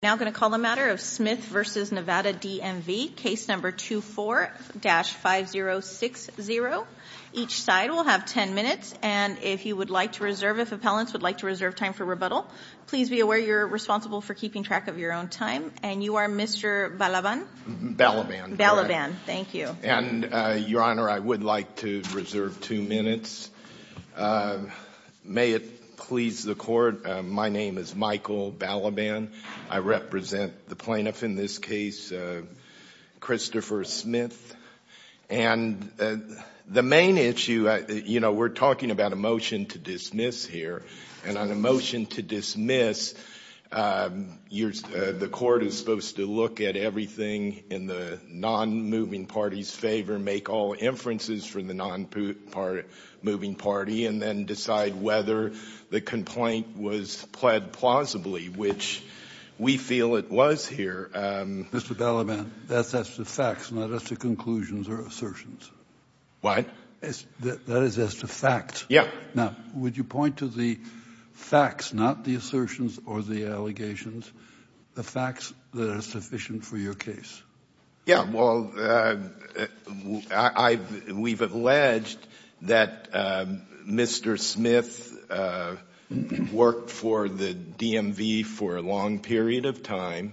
Now going to call the matter of Smith v. Nevada DMV, case number 24-5060. Each side will have 10 minutes, and if you would like to reserve, if appellants would like to reserve time for rebuttal, please be aware you're responsible for keeping track of your own time. And you are Mr. Balaban? Balaban. Balaban. Thank you. And, Your Honor, I would like to reserve two minutes. May it please the Court. My name is Michael Balaban. I represent the plaintiff in this case, Christopher Smith. And the main issue, you know, we're talking about a motion to dismiss here. And on a motion to dismiss, the Court is supposed to look at everything in the non-moving party's favor, make all inferences for the non-moving party, and then decide whether the complaint was pled plausibly, which we feel it was here. Mr. Balaban, that's as to facts, not as to conclusions or assertions. What? That is as to facts. Yeah. Now, would you point to the facts, not the assertions or the allegations, the facts that are sufficient for your case? Yeah, well, we've alleged that Mr. Smith worked for the DMV for a long period of time.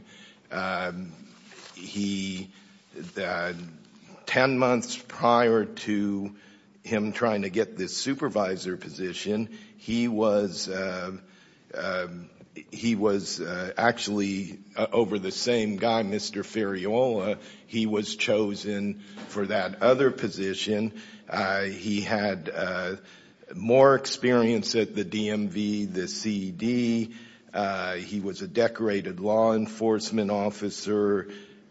Ten months prior to him trying to get this supervisor position, he was actually over the same guy, Mr. Ferriola. He was chosen for that other position. He had more experience at the DMV, the CD. He was a decorated law enforcement officer.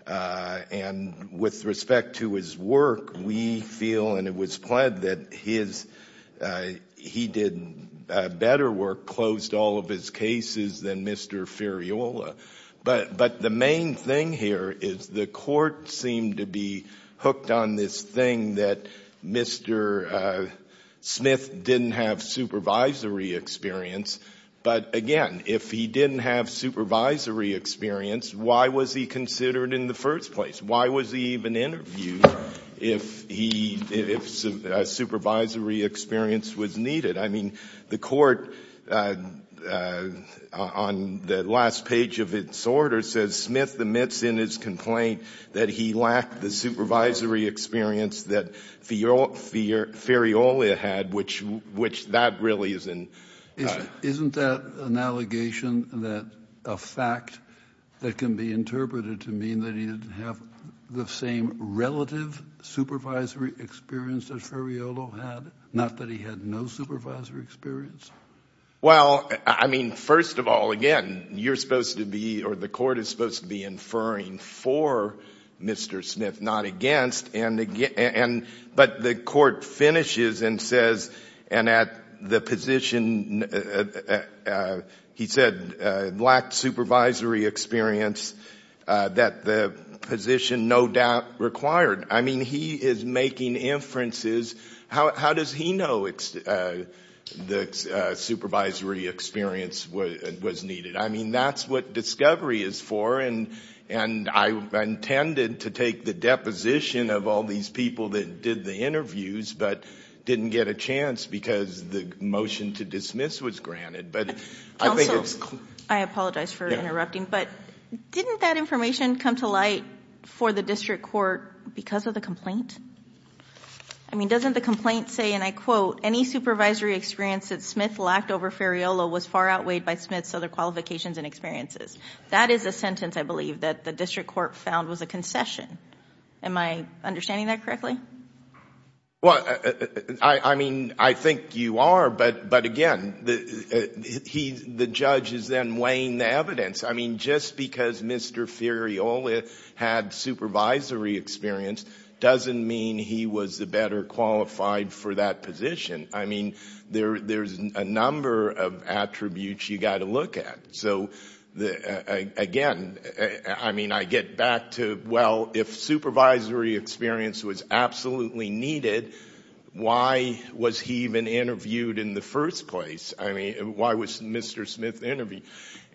And with respect to his work, we feel, and it was pled, that he did better work, closed all of his cases than Mr. Ferriola. But the main thing here is the court seemed to be hooked on this thing that Mr. Smith didn't have supervisory experience. But again, if he didn't have supervisory experience, why was he considered in the first place? Why was he even interviewed if he — if supervisory experience was needed? I mean, the court, on the last page of its order, says Smith admits in his complaint that he lacked the supervisory experience that Ferriola had, which that really is an — Isn't that an allegation that — a fact that can be interpreted to mean that he didn't have the same relative supervisory experience that Ferriola had, not that he had no supervisory experience? Well, I mean, first of all, again, you're supposed to be — or the court is supposed to be inferring for Mr. Smith, not against. But the court finishes and says, and at the position — he said lacked supervisory experience, that the position no doubt required — I mean, he is making inferences. How does he know the supervisory experience was needed? I mean, that's what discovery is for, and I intended to take the deposition of all these people that did the interviews but didn't get a chance because the motion to dismiss was granted. But I think it's — I apologize for interrupting, but didn't that information come to light for the district court because of the complaint? I mean, doesn't the complaint say, and I quote, any supervisory experience that Smith lacked over Ferriola was far outweighed by Smith's other qualifications and experiences? That is a sentence, I believe, that the district court found was a concession. Am I understanding that correctly? Well, I mean, I think you are, but again, the judge is then weighing the evidence. I mean, just because Mr. Ferriola had supervisory experience doesn't mean he was the better qualified for that position. I mean, there's a number of attributes you've got to look at. So, again, I mean, I get back to, well, if supervisory experience was absolutely needed, why was he even interviewed in the first place? I mean, why was Mr. Smith interviewed?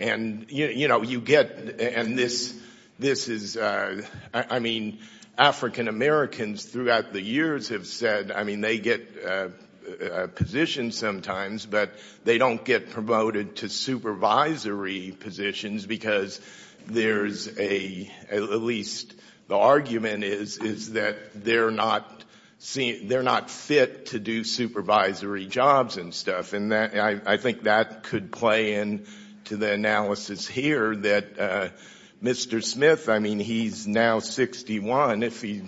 And you know, you get — and this is — I mean, African Americans throughout the years have said — I mean, they get a position sometimes, but they don't get promoted to supervisory positions because there's a — at least the argument is that they're not fit to do supervisory jobs and stuff. And I think that could play into the analysis here that Mr. Smith, I mean, he's now 61. If he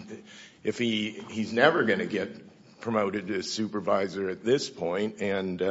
— he's never going to get promoted to supervisor at this point. And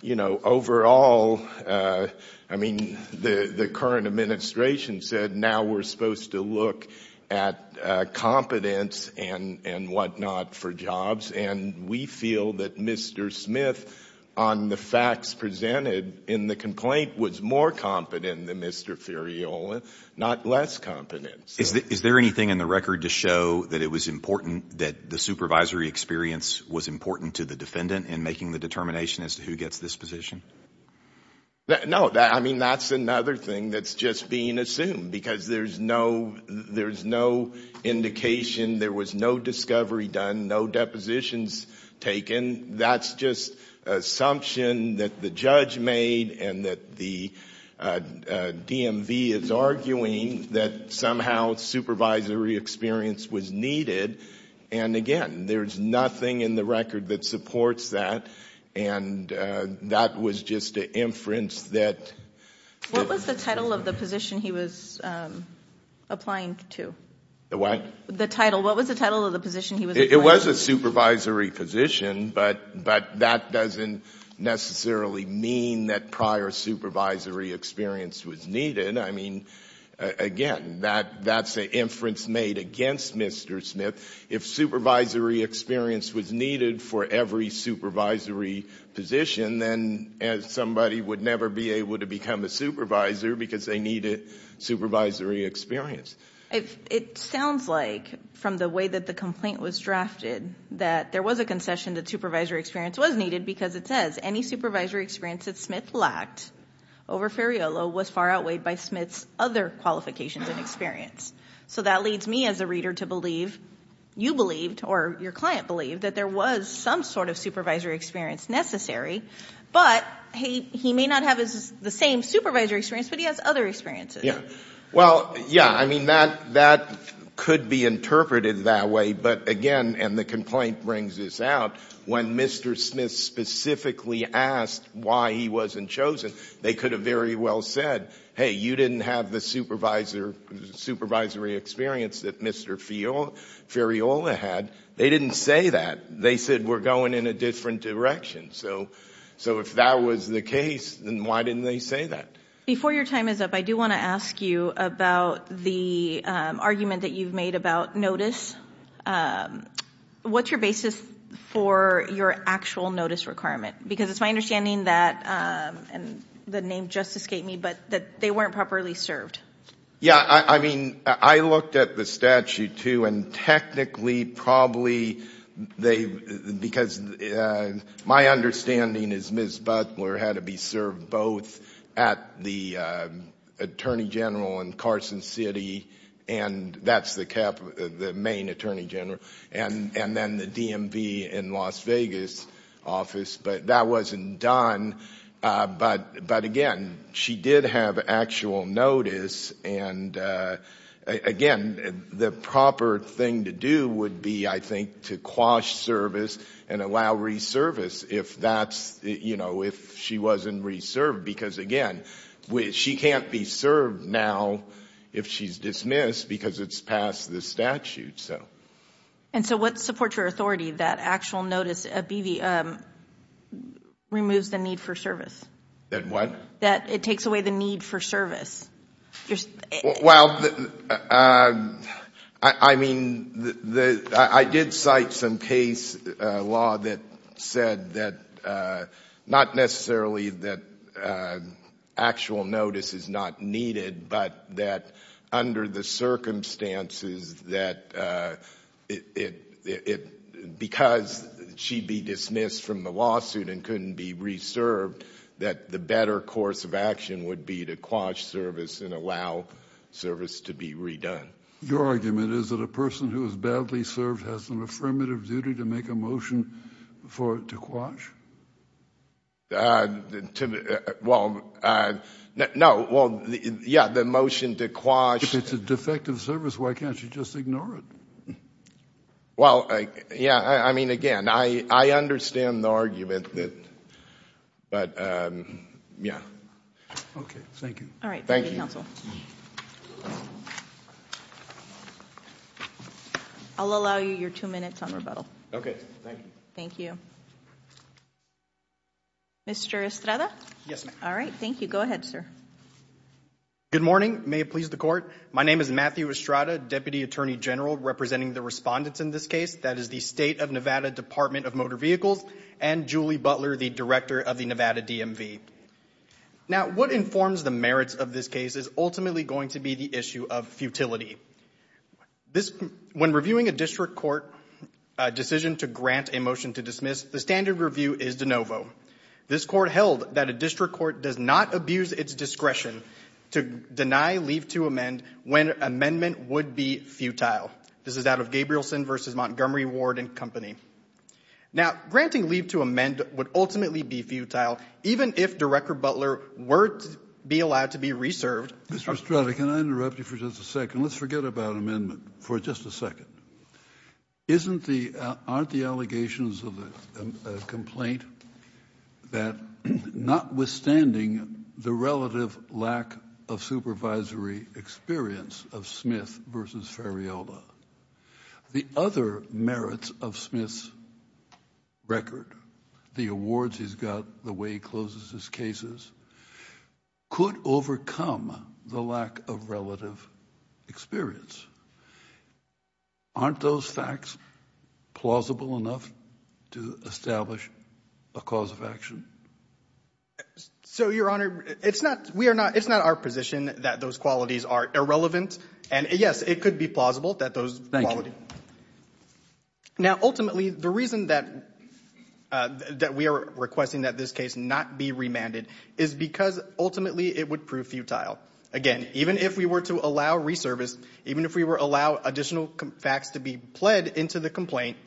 you know, overall, I mean, the current administration said now we're supposed to look at competence and whatnot for jobs. And we feel that Mr. Smith, on the facts presented in the complaint, was more competent than Mr. Ferriola, not less competent. Is there anything in the record to show that it was important — that the supervisory experience was important to the defendant in making the determination as to who gets this position? No. I mean, that's another thing that's just being assumed, because there's no indication, there was no discovery done, no depositions taken. That's just an assumption that the judge made and that the DMV is arguing that somehow supervisory experience was needed. And again, there's nothing in the record that supports that, and that was just an inference that — What was the title of the position he was applying to? The what? The title. What was the title of the position he was applying to? It was a supervisory position, but that doesn't necessarily mean that prior supervisory experience was needed. I mean, again, that's an inference made against Mr. Smith. If supervisory experience was needed for every supervisory position, then somebody would never be able to become a supervisor because they needed supervisory experience. It sounds like, from the way that the complaint was drafted, that there was a concession that supervisory experience was needed because it says, any supervisory experience that Smith lacked over Ferraiolo was far outweighed by Smith's other qualifications and experience. So that leads me as a reader to believe, you believed, or your client believed, that there was some sort of supervisory experience necessary, but he may not have the same supervisory experience, but he has other experiences. Well, yeah, I mean, that could be interpreted that way, but again, and the complaint brings this out, when Mr. Smith specifically asked why he wasn't chosen, they could have very well said, hey, you didn't have the supervisory experience that Mr. Ferraiolo had. They didn't say that. They said, we're going in a different direction. So if that was the case, then why didn't they say that? Before your time is up, I do want to ask you about the argument that you've made about notice. What's your basis for your actual notice requirement? Because it's my understanding that, and the name just escaped me, but that they weren't properly served. Yeah, I mean, I looked at the statute too, and technically, probably, because my understanding is Ms. Butler had to be served both at the Attorney General in Carson City, and that's the main Attorney General, and then the DMV in Las Vegas office, but that wasn't done. But again, she did have actual notice, and again, the proper thing to do would be, I if that's, you know, if she wasn't reserved, because again, she can't be served now if she's dismissed because it's past the statute, so. And so what supports your authority that actual notice removes the need for service? That what? That it takes away the need for service. Well, I mean, I did cite some case law that said that, not necessarily that actual notice is not needed, but that under the circumstances that it, because she'd be dismissed from the statute and couldn't be reserved, that the better course of action would be to quash service and allow service to be redone. Your argument is that a person who is badly served has an affirmative duty to make a motion for it to quash? Well, no, well, yeah, the motion to quash. If it's a defective service, why can't you just ignore it? Well, yeah, I mean, again, I understand the argument that, but yeah. Okay. Thank you. All right. Thank you. Thank you, counsel. I'll allow you your two minutes on rebuttal. Okay. Thank you. Thank you. Mr. Estrada? Yes, ma'am. All right. Thank you. Go ahead, sir. Good morning. May it please the court. My name is Matthew Estrada, Deputy Attorney General representing the respondents in this case. That is the State of Nevada Department of Motor Vehicles and Julie Butler, the Director of the Nevada DMV. Now, what informs the merits of this case is ultimately going to be the issue of futility. When reviewing a district court decision to grant a motion to dismiss, the standard review is de novo. This court held that a district court does not abuse its discretion to deny, leave to amend, when amendment would be futile. This is out of Gabrielson v. Montgomery Ward and Company. Now, granting leave to amend would ultimately be futile, even if Director Butler were to be allowed to be reserved. Mr. Estrada, can I interrupt you for just a second? Let's forget about amendment for just a second. Aren't the allegations of the complaint that notwithstanding the relative lack of supervisory experience of Smith v. Ferrielda, the other merits of Smith's record, the awards he's got, the way he closes his cases, could overcome the lack of relative experience? Aren't those facts plausible enough to establish a cause of action? So, Your Honor, it's not our position that those qualities are irrelevant. And, yes, it could be plausible that those qualities. Now, ultimately, the reason that we are requesting that this case not be remanded is because ultimately it would prove futile. Again, even if we were to allow reservice, even if we were to allow additional facts to be pled into the complaint,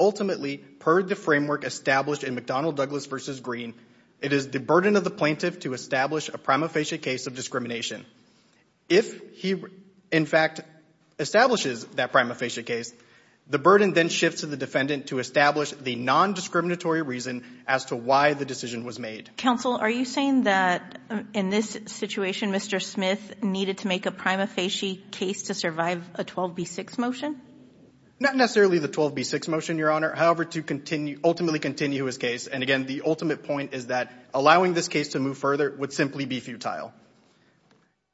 ultimately, per the framework established in McDonnell Douglas v. Green, it is the burden of the plaintiff to establish a prima facie case of discrimination. If he, in fact, establishes that prima facie case, the burden then shifts to the defendant to establish the non-discriminatory reason as to why the decision was made. Counsel, are you saying that in this situation, Mr. Smith needed to make a prima facie case to survive a 12b6 motion? Not necessarily the 12b6 motion, Your Honor, however, to ultimately continue his case. And, again, the ultimate point is that allowing this case to move further would simply be futile.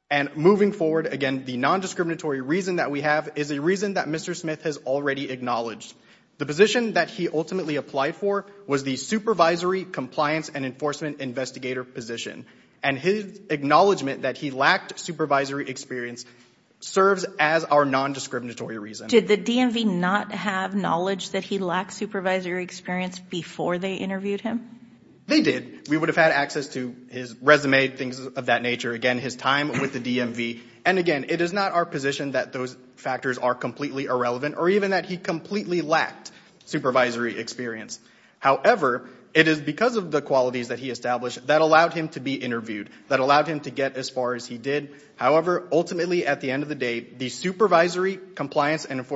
And moving forward, again, the non-discriminatory reason that we have is a reason that Mr. Smith has already acknowledged. The position that he ultimately applied for was the supervisory compliance and enforcement investigator position. And his acknowledgment that he lacked supervisory experience serves as our non-discriminatory reason. Did the DMV not have knowledge that he lacked supervisory experience before they interviewed him? They did. We would have had access to his resume, things of that nature, again, his time with the DMV. And again, it is not our position that those factors are completely irrelevant or even that he completely lacked supervisory experience. However, it is because of the qualities that he established that allowed him to be interviewed, that allowed him to get as far as he did. However, ultimately, at the end of the day, the supervisory compliance and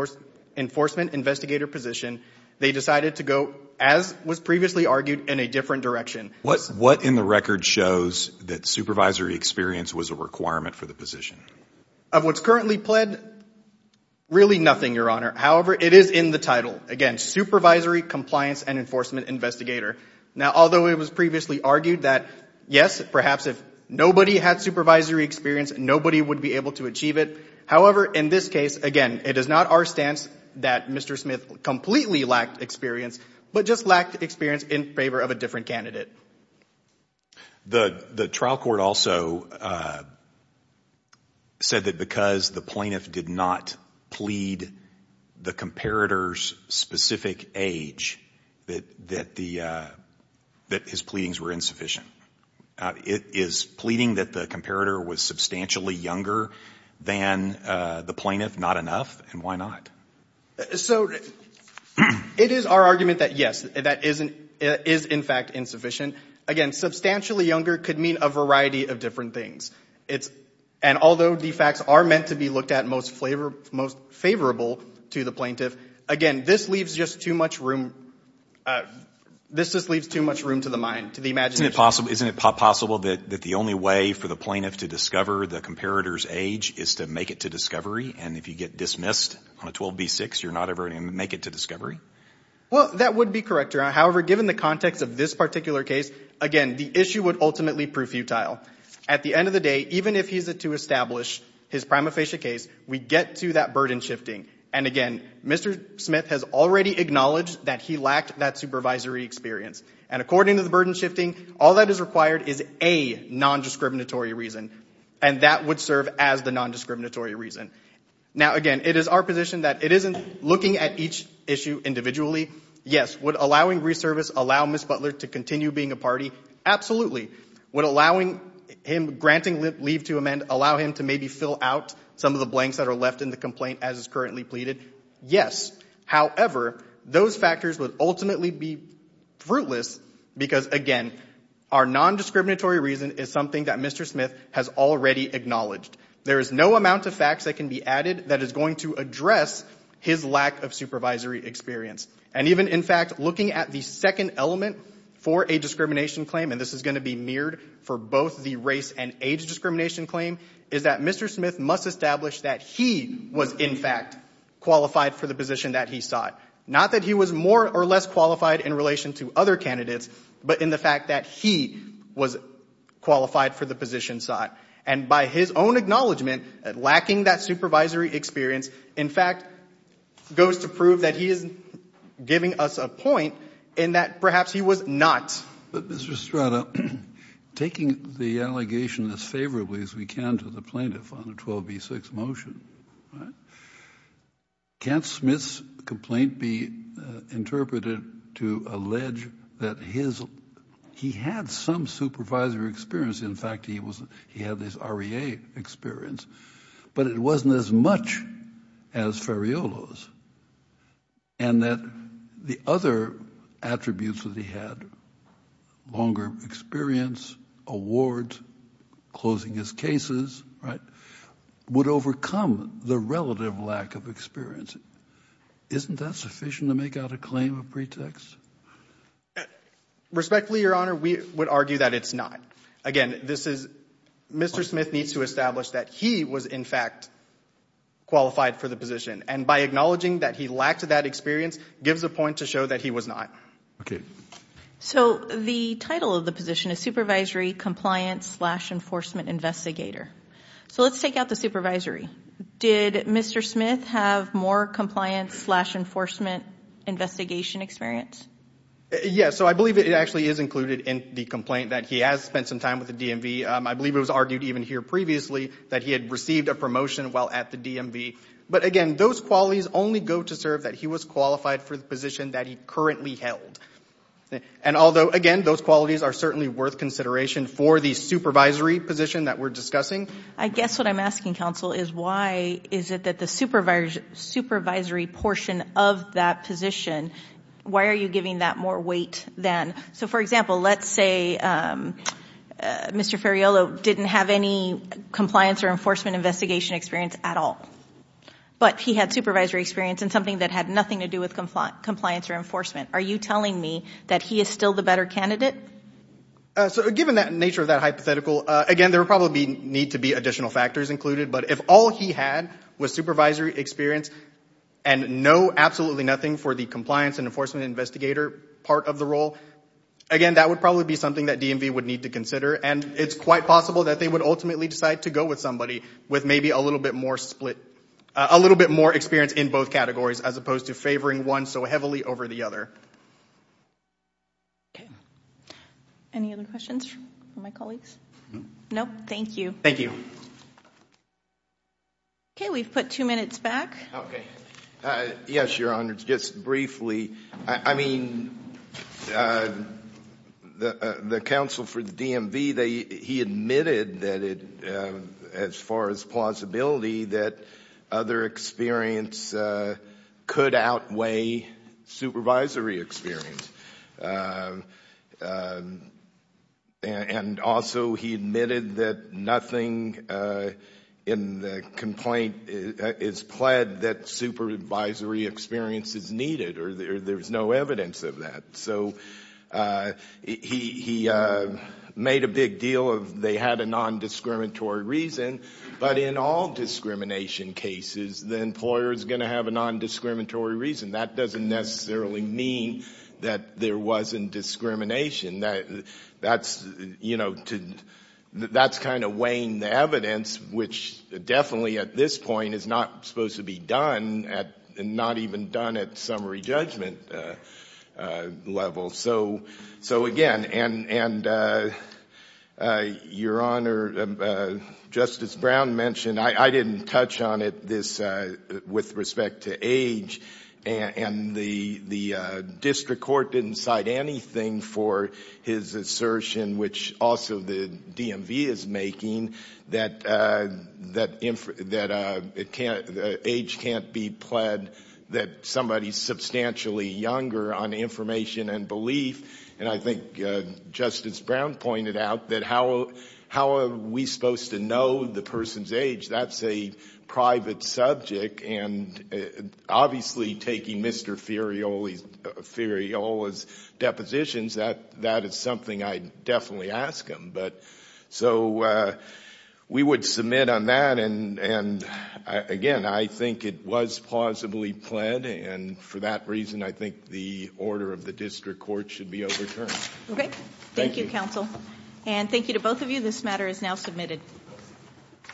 enforcement investigator position, they decided to go, as was previously argued, in a different direction. What in the record shows that supervisory experience was a requirement for the position? Of what's currently pled, really nothing, Your Honor. However, it is in the title. Again, supervisory compliance and enforcement investigator. Now, although it was previously argued that, yes, perhaps if nobody had supervisory experience nobody would be able to achieve it. However, in this case, again, it is not our stance that Mr. Smith completely lacked experience, but just lacked experience in favor of a different candidate. The trial court also said that because the plaintiff did not plead the comparator's specific age that his pleadings were insufficient. Is pleading that the comparator was substantially younger than the plaintiff not enough, and why not? So, it is our argument that, yes, that is, in fact, insufficient. Again, substantially younger could mean a variety of different things. And although the facts are meant to be looked at most favorable to the plaintiff, again, this just leaves too much room to the mind, to the imagination. Isn't it possible that the only way for the plaintiff to discover the comparator's age is to make it to discovery? And if you get dismissed on a 12B6, you're not ever going to make it to discovery? Well, that would be correct, Your Honor. However, given the context of this particular case, again, the issue would ultimately prove futile. At the end of the day, even if he's to establish his prima facie case, we get to that burden shifting. And again, Mr. Smith has already acknowledged that he lacked that supervisory experience. And according to the burden shifting, all that is required is a non-discriminatory reason. And that would serve as the non-discriminatory reason. Now, again, it is our position that it isn't looking at each issue individually. Yes, would allowing re-service allow Ms. Butler to continue being a party? Absolutely. Would allowing him, granting leave to amend, allow him to maybe fill out some of the blanks that are left in the complaint as is currently pleaded? Yes. However, those factors would ultimately be fruitless because, again, our non-discriminatory reason is something that Mr. Smith has already acknowledged. There is no amount of facts that can be added that is going to address his lack of supervisory experience. And even, in fact, looking at the second element for a discrimination claim, and this is going to be mirrored for both the race and age discrimination claim, is that Mr. Smith must establish that he was, in fact, qualified for the position that he sought. Not that he was more or less qualified in relation to other candidates, but in the fact that he was qualified for the position sought. And by his own acknowledgment, lacking that supervisory experience, in fact, goes to prove that he is giving us a point in that perhaps he was not. But, Mr. Estrada, taking the allegation as favorably as we can to the plaintiff on the 12B6 motion, can't Smith's complaint be interpreted to allege that he had some supervisory experience, in fact, he had his REA experience, but it wasn't as much as Ferraiolo's, and that the other attributes that he had, longer experience, awards, closing his cases, right, would overcome the relative lack of experience. Isn't that sufficient to make out a claim of pretext? Respectfully, Your Honor, we would argue that it's not. Again, this is, Mr. Smith needs to establish that he was, in fact, qualified for the position. And by acknowledging that he lacked that experience, gives a point to show that he was not. So the title of the position is Supervisory Compliance slash Enforcement Investigator. So let's take out the supervisory. Did Mr. Smith have more compliance slash enforcement investigation experience? Yes, so I believe it actually is included in the complaint that he has spent some time with the DMV. I believe it was argued even here previously that he had received a promotion while at the DMV. But again, those qualities only go to serve that he was qualified for the position that he currently held. And although, again, those qualities are certainly worth consideration for the supervisory position that we're discussing. I guess what I'm asking, counsel, is why is it that the supervisory portion of that position, why are you giving that more weight then? So for example, let's say Mr. Ferraiolo didn't have any compliance or enforcement investigation experience at all. But he had supervisory experience in something that had nothing to do with compliance or enforcement. Are you telling me that he is still the better candidate? So given that nature of that hypothetical, again, there would probably need to be additional factors included. But if all he had was supervisory experience and no, absolutely nothing for the compliance and enforcement investigator part of the role, again, that would probably be something that DMV would need to consider. And it's quite possible that they would ultimately decide to go with somebody with maybe a little bit more split, a little bit more experience in both categories as opposed to favoring one so heavily over the other. Okay. Any other questions from my colleagues? Nope. Thank you. Thank you. Okay. We've put two minutes back. Okay. Yes, Your Honor. Just briefly. I mean, the counsel for the DMV, he admitted that as far as plausibility that other experience could outweigh supervisory experience. And also, he admitted that nothing in the complaint is pled that supervisory experience is needed or there's no evidence of that. So he made a big deal of they had a nondiscriminatory reason. But in all discrimination cases, the employer is going to have a nondiscriminatory reason. That doesn't necessarily mean that there wasn't discrimination. That's kind of weighing the evidence, which definitely at this point is not supposed to be done, not even done at summary judgment level. So again, and Your Honor, Justice Brown mentioned, I didn't touch on it, this with respect to age. And the district court didn't cite anything for his assertion, which also the DMV is making, that age can't be pled that somebody's substantially younger on information and belief. And I think Justice Brown pointed out that how are we supposed to know the person's age? That's a private subject. And obviously, taking Mr. Ferriola's depositions, that is something I'd definitely ask him. So we would submit on that. And again, I think it was plausibly pled. And for that reason, I think the order of the district court should be overturned. Okay. Thank you, counsel. And thank you to both of you. This matter is now submitted.